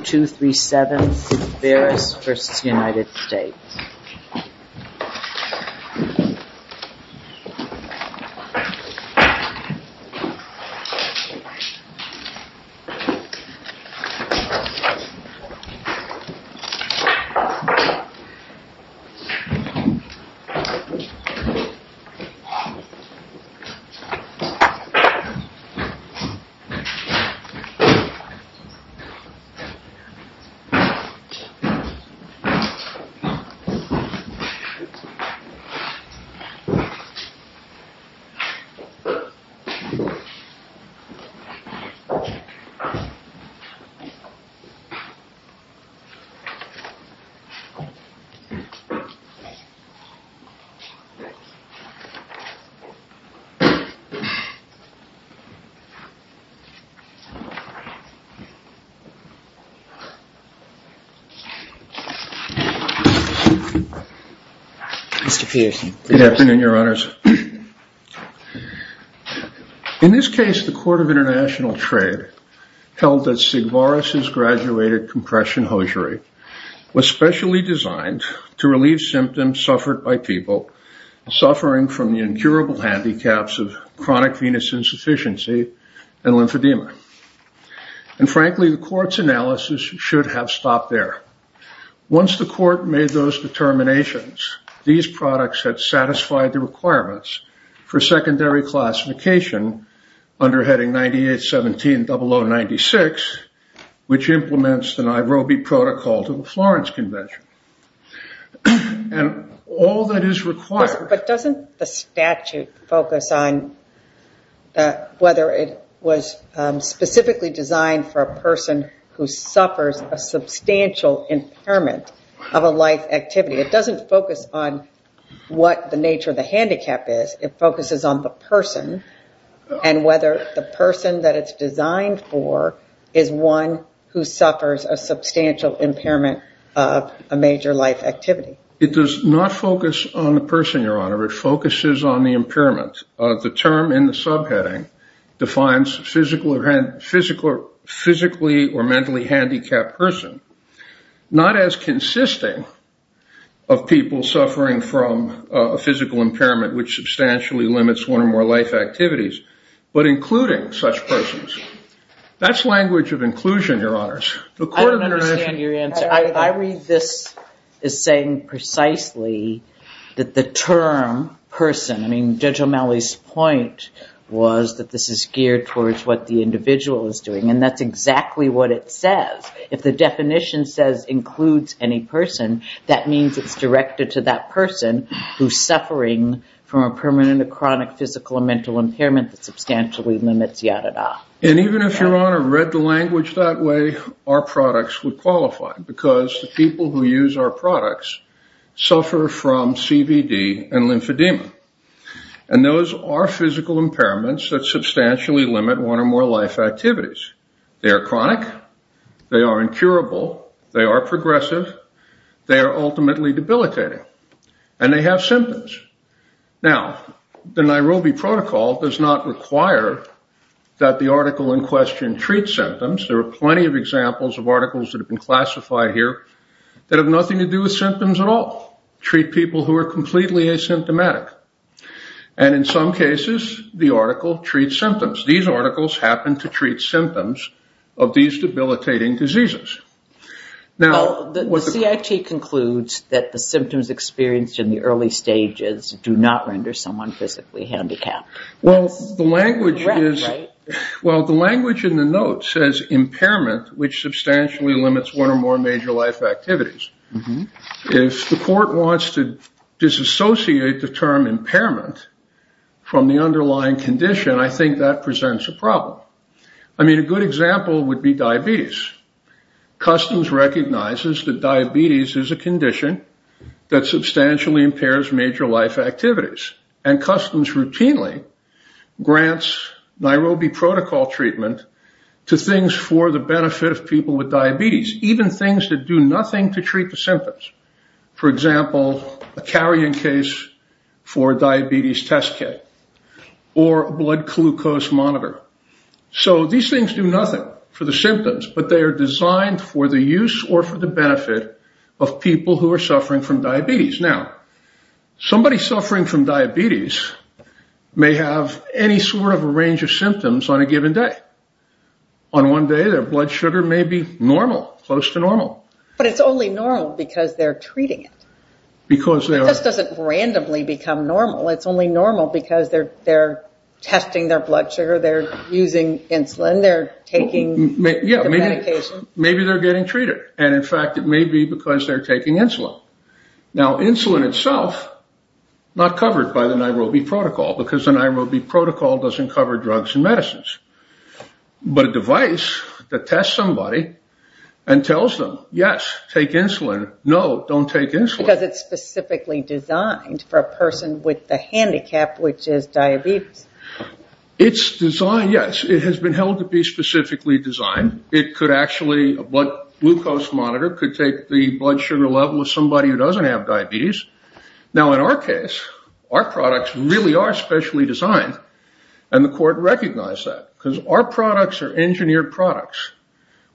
2-3-7 Vavaris v. United States Vavaris v. United States In this case, the Court of International Trade held that Sigvaris' graduated compression hosiery was specially designed to relieve symptoms suffered by people suffering from the incurable handicaps of chronic venous insufficiency and lymphedema. And frankly, the Court's analysis should have stopped there. Once the Court made those determinations, these products had satisfied the requirements for secondary classification under heading 98170096, which implements the Nairobi Protocol to the Florence Convention. And all that is required... But doesn't the statute focus on whether it was specifically designed for a person who suffers a substantial impairment of a life activity? It doesn't focus on what the nature of the handicap is. It focuses on the person and whether the person that it's designed for is one who suffers a substantial impairment of a major life activity. It does not focus on the person, Your Honor. It focuses on the impairment. The term in subheading defines physically or mentally handicapped person, not as consisting of people suffering from a physical impairment, which substantially limits one or more life activities, but including such persons. That's language of inclusion, Your Honors. I don't understand your answer. I read this as saying precisely that the term person, I mean, Judge O'Malley's point was that this is geared towards what the individual is doing, and that's exactly what it says. If the definition says includes any person, that means it's directed to that person who's suffering from a permanent or chronic physical or mental impairment that substantially limits yada-da. And even if, Your Honor, read the language that way, our products would qualify, because the people who use our products suffer from CVD and lymphedema. And those are physical impairments that substantially limit one or more life activities. They are chronic. They are incurable. They are progressive. They are ultimately debilitating. And they have symptoms. Now, the Nairobi Protocol does not require that the article in question treat symptoms. There are plenty of examples of articles that have been classified here that have nothing to do with symptoms at all, treat people who are completely asymptomatic. And in some cases the article treats symptoms. These articles happen to treat symptoms of these debilitating diseases. Well, the CIT concludes that the symptoms experienced in the early stages do not render someone physically handicapped. Well, the language in the note says impairment, which substantially limits one or more major life activities. If the court wants to disassociate the term impairment from the underlying condition, I think that presents a problem. I mean, a good example would be diabetes. Customs recognizes that diabetes is a condition that substantially impairs major life activities. And Customs routinely grants Nairobi Protocol treatment to things for the benefit of people with diabetes. Even things that do nothing to treat the symptoms. For example, a carrying case for a diabetes test kit or a blood glucose monitor. So these things do nothing for the symptoms, but they are designed for the use or for the benefit of people who are suffering from diabetes. Now, somebody suffering from diabetes may have any sort of a range of symptoms on a close to normal. But it's only normal because they're treating it. The test doesn't randomly become normal. It's only normal because they're testing their blood sugar, they're using insulin, they're taking the medication. Maybe they're getting treated. And in fact, it may be because they're taking insulin. Now insulin itself, not covered by the Nairobi Protocol, because the Nairobi Protocol doesn't cover drugs and medicines. But a device that tests somebody and tells them, yes, take insulin, no, don't take insulin. Because it's specifically designed for a person with a handicap, which is diabetes. It's designed, yes. It has been held to be specifically designed. It could actually, a blood glucose monitor could take the blood sugar level of somebody who doesn't have diabetes. Now in our case, our products really are specially designed. And the court recognized that because our products are engineered products.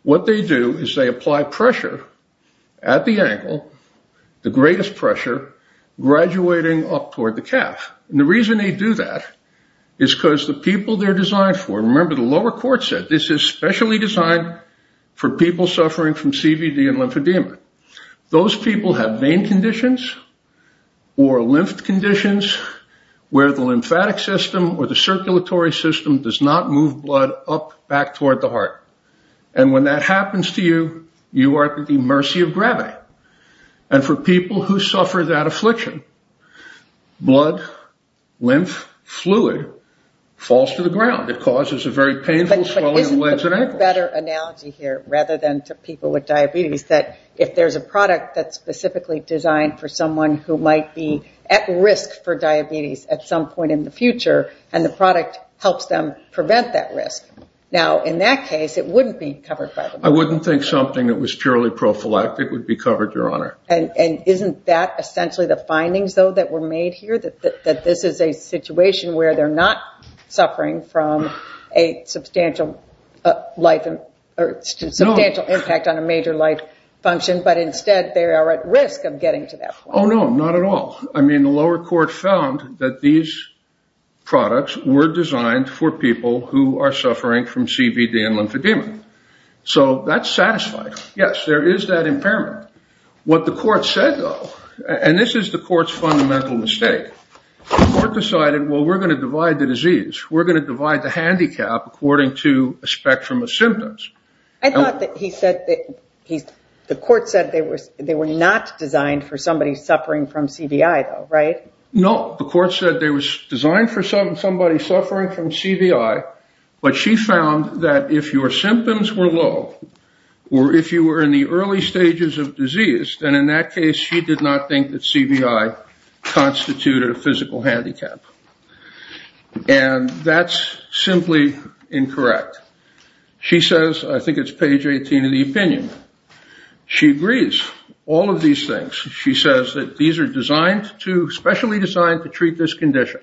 What they do is they apply pressure at the ankle, the greatest pressure, graduating up toward the calf. And the reason they do that is because the people they're designed for, remember the lower court said, this is specially designed for people suffering from CVD and lymphedema. Those people have vein conditions or lymphed conditions where the lymphatic system or the circulatory system does not move blood up back toward the heart. And when that happens to you, you are at the mercy of gravity. And for people who suffer that affliction, blood, lymph, fluid falls to the ground. It causes a very painful swelling of the legs and ankles. There's a better analogy here, rather than to people with diabetes, that if there's a product that's specifically designed for someone who might be at risk for diabetes at some point in the future, and the product helps them prevent that risk. Now in that case, it wouldn't be covered by the law. I wouldn't think something that was purely prophylactic would be covered, Your Honor. And isn't that essentially the findings, though, that were made here? That this is a situation where they're not suffering from a substantial impact on a major life function, but instead they are at risk of getting to that point. Oh, no, not at all. I mean, the lower court found that these products were designed for people who are suffering from CVD and lymphedema. So that's satisfying. Yes, there is that impairment. What the court said, though, and this is the court's fundamental mistake, the court decided, well, we're going to divide the disease. We're going to divide the handicap according to a spectrum of symptoms. I thought that he said that the court said they were not designed for somebody suffering from CVI, though, right? No, the court said they were designed for somebody suffering from CVI, but she found that if your symptoms were low, or if you were in the early stages of disease, then in that case she did not think that CVI constituted a physical handicap. And that's simply incorrect. She says, I think it's page 18 of the opinion, she agrees. All of these things, she says that these are designed to, specially designed to treat this condition.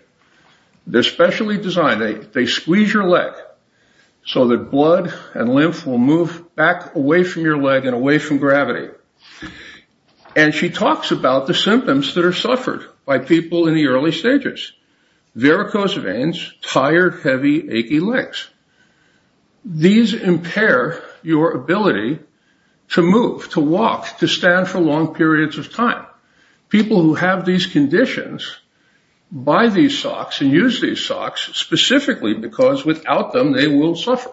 They're specially designed. They squeeze your leg so that blood and lymph will move back away from your leg and away from gravity. And she talks about the symptoms that are suffered by people in the early stages. Varicose veins, tired, heavy, achy legs. These impair your ability to move, to walk, to stand for long periods of time. People who have these conditions buy these socks and use these socks specifically because without them they will suffer.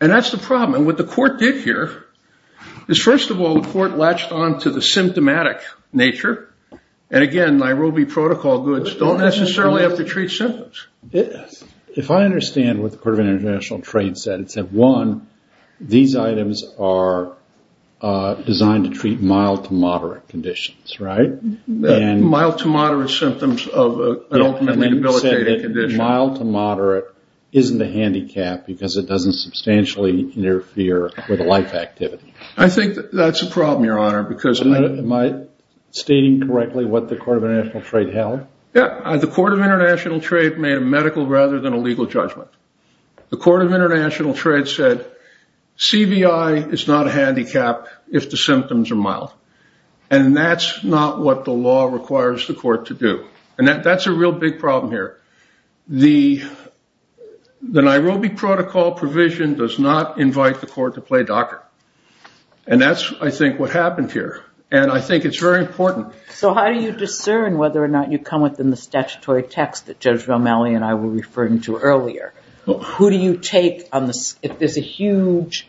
And that's the problem. And what the court did here is, first of all, the court latched on to the symptomatic nature. And again, Nairobi protocol goods don't necessarily have to treat symptoms. If I understand what the Court of International Trade said, it said, one, these items are designed to treat mild to moderate conditions, right? Mild to moderate symptoms of an ultimately debilitating condition. Mild to moderate isn't a handicap because it doesn't substantially interfere with a life activity. I think that's a problem, Your Honor, because... Am I stating correctly what the Court of International Trade held? Yeah. The Court of International Trade made a medical rather than a legal judgment. The Court of International Trade said, CBI is not a handicap if the symptoms are mild. And that's not what the law requires the court to do. And that's a real big problem here. The Nairobi protocol provision does not invite the court to play docker. And that's, I think, what happened here. And I think it's very important. So how do you discern whether or not you come within the statutory text that Judge Romali and I were referring to earlier? If there's a huge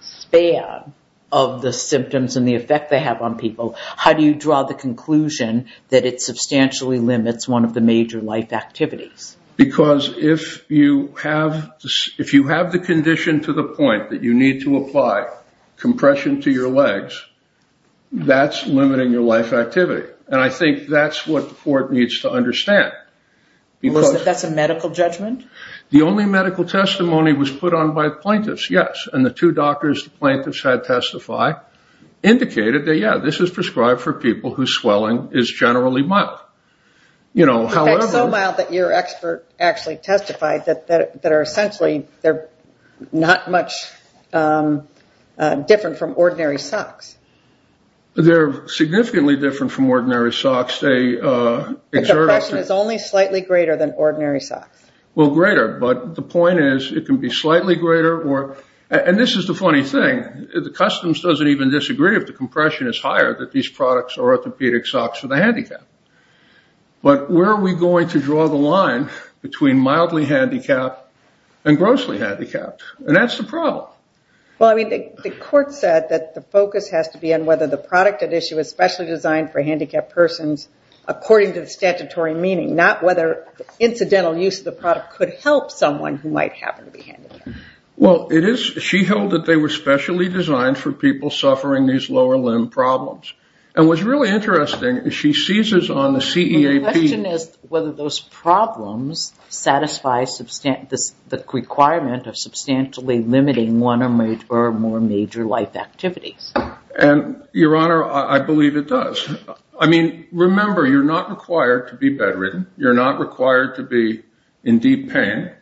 span of the symptoms and the effect they have on people, how do you draw the conclusion that it substantially limits one of the major life activities? Because if you have the condition to the point that you need to apply compression to your legs, that's limiting your life activity. And I think that's what the court needs to understand. That's a medical judgment? The only medical testimony was put on by plaintiffs, yes. And the two doctors the plaintiffs had testify indicated that, yeah, this is prescribed for people whose swelling is generally mild. You know, however... So mild that your expert actually testified that are essentially, they're not much different from ordinary socks. They're significantly different from ordinary socks. The compression is only slightly greater than ordinary socks. Well, greater. But the point is, it can be slightly greater. And this is the funny thing. The customs doesn't even disagree if the compression is higher that these products are orthopedic socks for the handicapped. But where are we going to draw the line between mildly handicapped and grossly handicapped? And that's the problem. Well, I mean, the court said that the focus has to be on whether the product at issue is specially designed for handicapped persons according to the statutory meaning, not whether incidental use of the product could help someone who might happen to be handicapped. Well, it is. She held that they were specially designed for people suffering these lower limb problems. And what's really interesting is she seizes on the CEAP... The question is whether those problems satisfy the requirement of substantially limiting one or more major life activities. And Your Honor, I believe it does. I mean, remember, you're not required to be bedridden. You're not required to be in deep pain.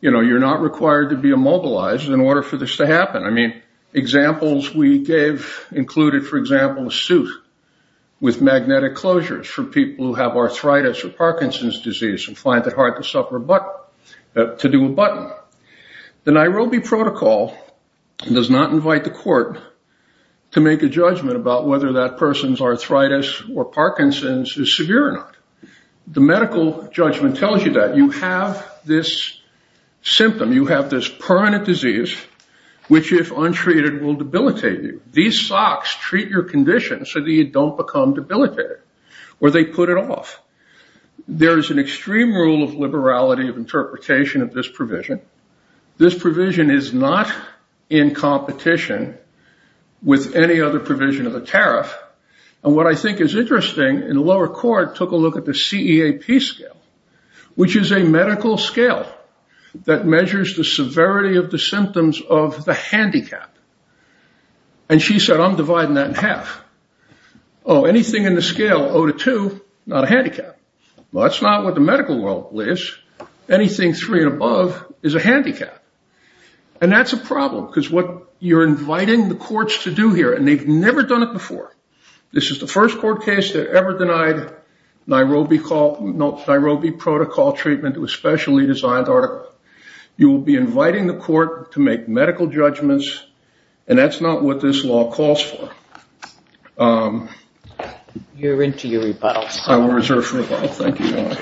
You know, you're not required to be immobilized in order for this to happen. I mean, examples we gave included, for example, a suit with magnetic closures for people who have arthritis or Parkinson's disease and find it hard to do a button. The Nairobi protocol does not invite the court to make a judgment about whether that person's arthritis or Parkinson's is severe or not. The medical judgment tells you that you have this symptom, you have this permanent disease, which if untreated will debilitate you. These socks treat your condition so that you don't become debilitated, or they put it off. There is an extreme rule of liberality of interpretation of this provision. This provision is not in competition with any other provision of the tariff. And what I think is interesting, in the lower court took a look at the CEAP scale, which is a medical scale that measures the severity of the symptoms of the handicap. And she said, I'm dividing that in half. Oh, anything in the scale 0 to 2, not a handicap. Well, that's not what the medical rule is. Anything 3 and above is a handicap. And that's a problem, because what you're inviting the courts to do here, and they've never done it before. This is the first court case that ever denied Nairobi protocol treatment to a specially designed article. You will be inviting the court to make medical judgments. And that's not what this law calls for. You're into your rebuttals. I will reserve for rebuttal. Thank you, Your Honor.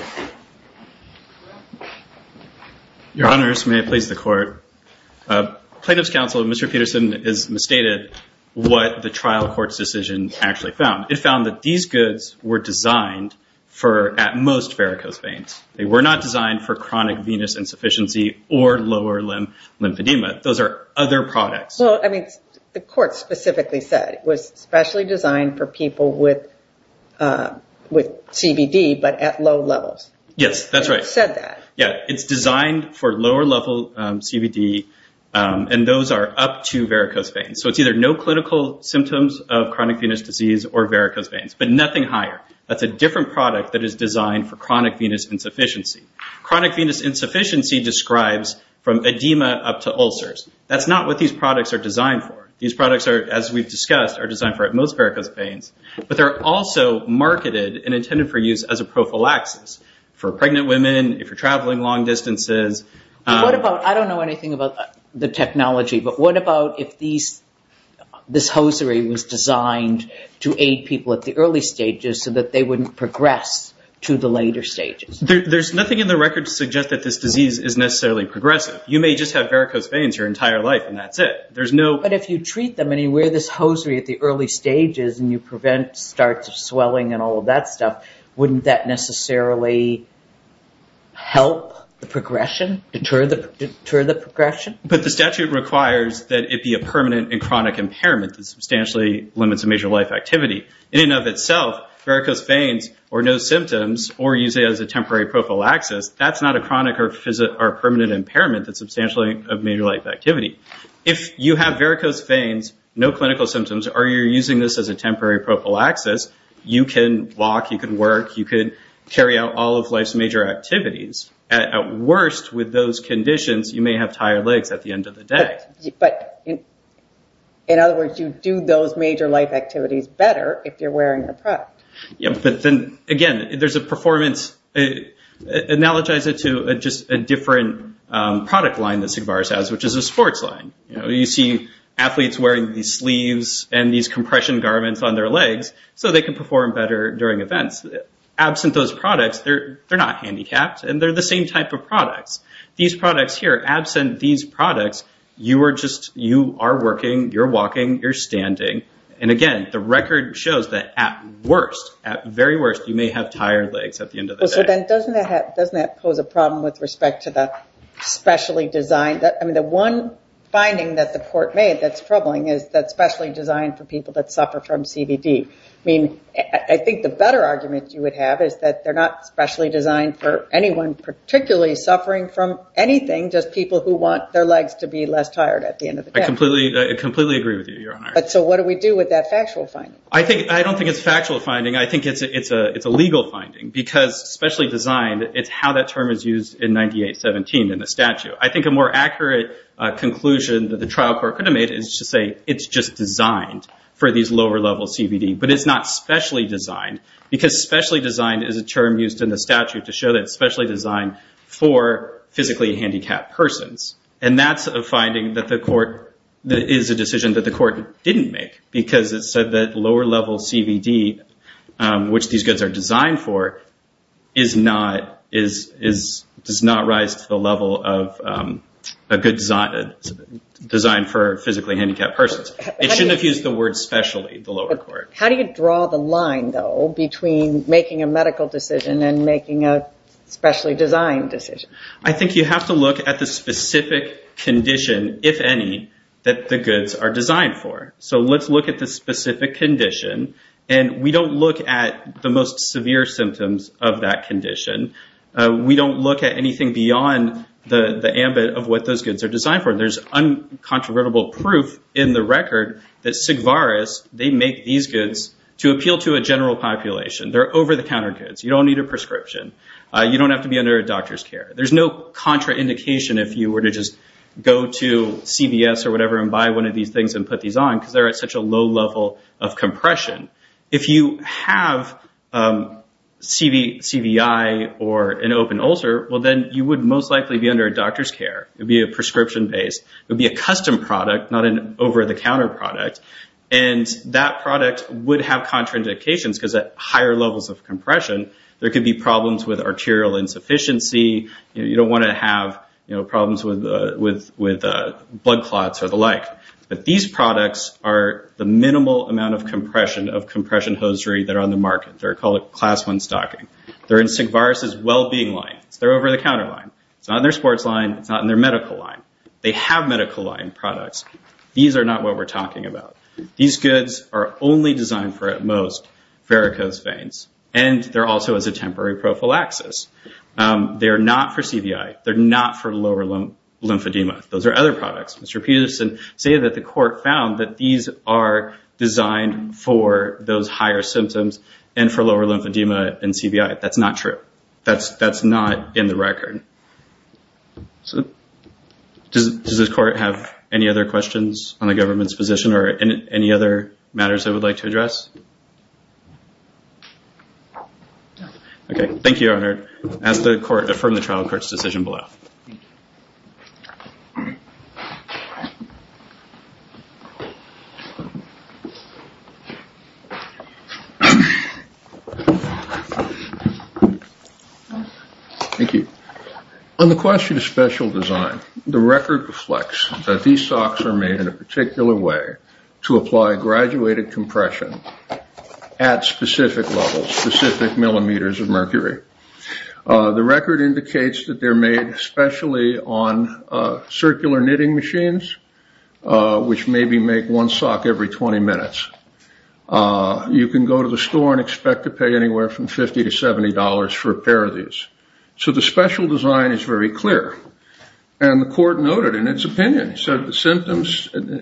Your Honors, may it please the court. Plaintiff's counsel, Mr. Peterson, has misstated what the trial court's decision actually found. It found that these goods were designed for, at most, varicose veins. They were not designed for chronic venous insufficiency or lower limb lymphedema. Those are other products. Well, I mean, the court specifically said it was specially designed for people with CBD, but at low levels. Yes, that's right. It said that. Yeah, it's designed for lower level CBD, and those are up to varicose veins. So it's either no clinical symptoms of chronic venous disease or varicose veins, but nothing higher. That's a different product that is designed for chronic venous insufficiency. Chronic venous insufficiency describes from edema up to ulcers. That's not what these products are designed for. These products are, as we've discussed, are designed for, at most, varicose veins, but they're also marketed and intended for use as a prophylaxis for pregnant women, if you're traveling long distances. I don't know anything about the technology, but what about if this hosiery was designed to aid people at the early stages so that they wouldn't progress to the later stages? There's nothing in the record to suggest that this disease is necessarily progressive. You may just have varicose veins your entire life, and that's it. There's no... But if you treat them and you wear this hosiery at the early stages, and you prevent starts of swelling and all of that stuff, wouldn't that necessarily help the progression, deter the progression? But the statute requires that it be a permanent and chronic impairment that substantially limits a major life activity. In and of itself, varicose veins, or no symptoms, or used as a temporary prophylaxis, that's not a chronic or permanent impairment that's substantially a major life activity. If you have varicose veins, no clinical symptoms, or you're using this as a temporary prophylaxis, you can walk, you can work, you could carry out all of life's major activities. At worst, with those conditions, you may have tired legs at the end of the day. But in other words, you do those major life activities better if you're wearing a product. Yeah, but then again, there's a performance... Analogize it to just a different product line that SIGBAR has, which is a sports line. You see athletes wearing these sleeves and these compression garments on their legs, so they can perform better during events. Absent those products, they're not handicapped, and they're the same type of products. These products here, absent these products, you are working, you're walking, you're standing. And again, the record shows that at worst, at very worst, you may have tired legs at the end of the day. So then doesn't that pose a problem with respect to the specially designed... I mean, the one finding that the court made that's troubling is that specially designed for people that suffer from CVD. I mean, I think the better argument you would have is that they're not specially designed for anyone particularly suffering from anything, just people who want their legs to be less tired at the end of the day. I completely agree with you, Your Honor. But so what do we do with that factual finding? I don't think it's a factual finding. I think it's a legal finding because specially designed, it's how that term is used in 9817 in the statute. I think a more accurate conclusion that the trial court could have made is to say it's just designed for these lower level CVD, but it's not specially designed because specially designed is a term used in the statute to show that it's specially designed for physically handicapped persons. And that's a finding that is a decision that the court didn't make because it said that lower level CVD, which these goods are designed for, does not rise to the level of a good design for physically handicapped persons. It shouldn't have used the word specially, the lower court. How do you draw the line, though, between making a medical decision and making a specially designed decision? I think you have to look at the specific condition, if any, that the goods are designed for. So let's look at the specific condition, and we don't look at the most severe symptoms of that condition. We don't look at anything beyond the ambit of what those goods are designed for. There's uncontrovertible proof in the record that Sigvaris, they make these goods to appeal to a general population. They're over-the-counter goods. You don't need a prescription. You don't have to be under a doctor's care. There's no contraindication if you were to just go to CVS or whatever and buy one of these things and put these on because they're at such a low level of compression. If you have CVI or an open ulcer, well, then you would most likely be under a doctor's care. It would be a prescription-based. It would be a custom product, not an over-the-counter product, and that product would have contraindications because at higher levels of compression, there could be problems with arterial insufficiency. You don't want to have problems with blood clots or the like. But these products are the minimal amount of compression, of compression hosiery that are on the market. They're called a class one stocking. They're in Sigvaris' well-being line. They're over-the-counter line. It's not in their sports line. It's not in their medical line. They have medical line products. These are not what we're talking about. These goods are only designed for, at most, varicose veins, and they're also as a temporary prophylaxis. They're not for CVI. They're not for lower lymphedema. Those are other products. Mr. Peterson stated that the court found that these are designed for those higher symptoms and for lower lymphedema and CVI. That's not true. That's not in the record. Does the court have any other questions on the government's position or any other matters they would like to address? No. Okay. Thank you, Your Honor. As the court affirmed the trial, the court's decision will be left. Thank you. Thank you. On the question of special design, the record reflects that these socks are made in a particular way to apply graduated compression at specific levels, specific millimeters of mercury. The record indicates that they're made especially on circular knitting machines, which maybe make one sock every 20 minutes. You can go to the store and expect to pay anywhere from $50 to $70 for a pair of these. So the special design is very clear. The court noted in its opinion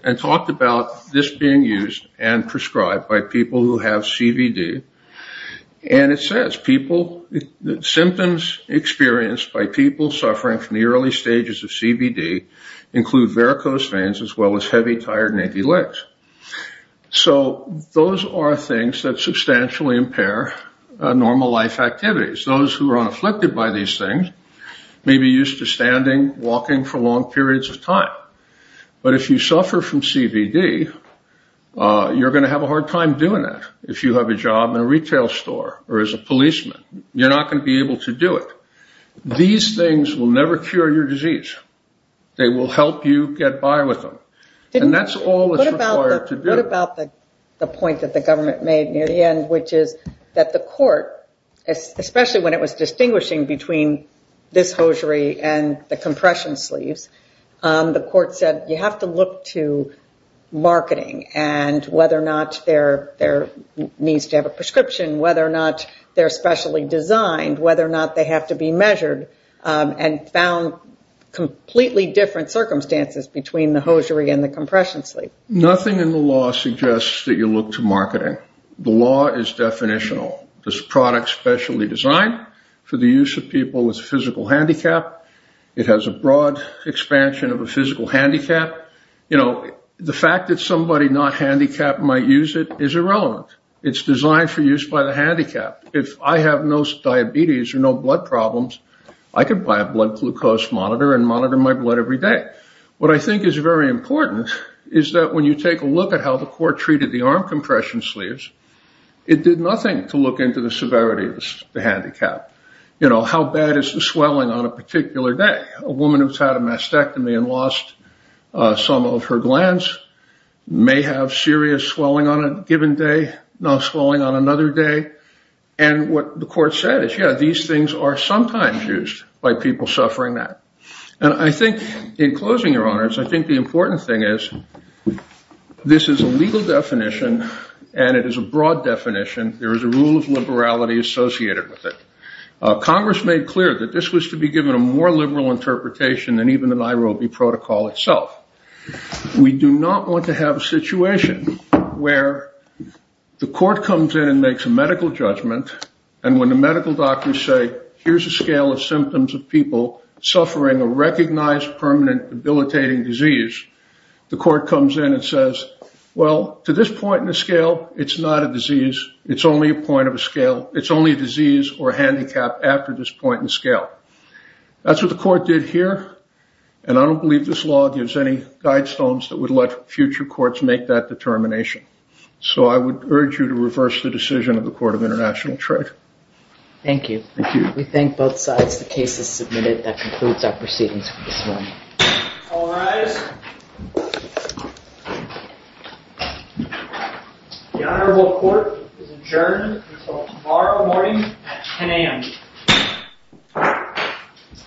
and talked about this being used and prescribed by people who have CVD. It says, symptoms experienced by people suffering from the early stages of CVD include varicose veins as well as heavy, tired, and achy legs. Those are things that substantially impair normal life activities. Those who are unafflicted by these things may be used to standing, walking for long periods of time. But if you suffer from CVD, you're going to have a hard time doing that. If you have a job in a retail store or as a policeman, you're not going to be able to do it. These things will never cure your disease. They will help you get by with them. And that's all that's required to do. What about the point that the government made near the end, which is that the especially when it was distinguishing between this hosiery and the compression sleeves, the court said you have to look to marketing and whether or not there needs to have a prescription, whether or not they're specially designed, whether or not they have to be measured, and found completely different circumstances between the hosiery and the compression sleeve. Nothing in the law suggests that you look to marketing. The law is definitional. This product is specially designed for the use of people with physical handicap. It has a broad expansion of a physical handicap. The fact that somebody not handicapped might use it is irrelevant. It's designed for use by the handicapped. If I have no diabetes or no blood problems, I can buy a blood glucose monitor and monitor my blood every day. What I think is very important is that when you take a look at how the court treated the arm compression sleeves, it did nothing to look into the severity of the handicap. You know, how bad is the swelling on a particular day? A woman who's had a mastectomy and lost some of her glands may have serious swelling on a given day, no swelling on another day. And what the court said is, yeah, these things are sometimes used by people suffering that. And I think in closing, your honors, I think the important thing is this is a legal definition and it is a broad definition. There is a rule of liberality associated with it. Congress made clear that this was to be given a more liberal interpretation than even the Nairobi Protocol itself. We do not want to have a situation where the court comes in and makes a medical judgment and when the medical doctors say, here's a scale of symptoms of people suffering a recognized permanent debilitating disease, the court comes in and says, well, to this point in the scale, it's not a disease. It's only a point of a scale. It's only a disease or a handicap after this point in scale. That's what the court did here and I don't believe this law gives any guidestones that would let future courts make that determination. So I would urge you to reverse the decision of the Court of International Trade. Thank you. Thank you. We thank both sides. The case is submitted. That concludes our proceedings for this morning. All rise. The Honorable Court is adjourned until tomorrow morning at 10 a.m.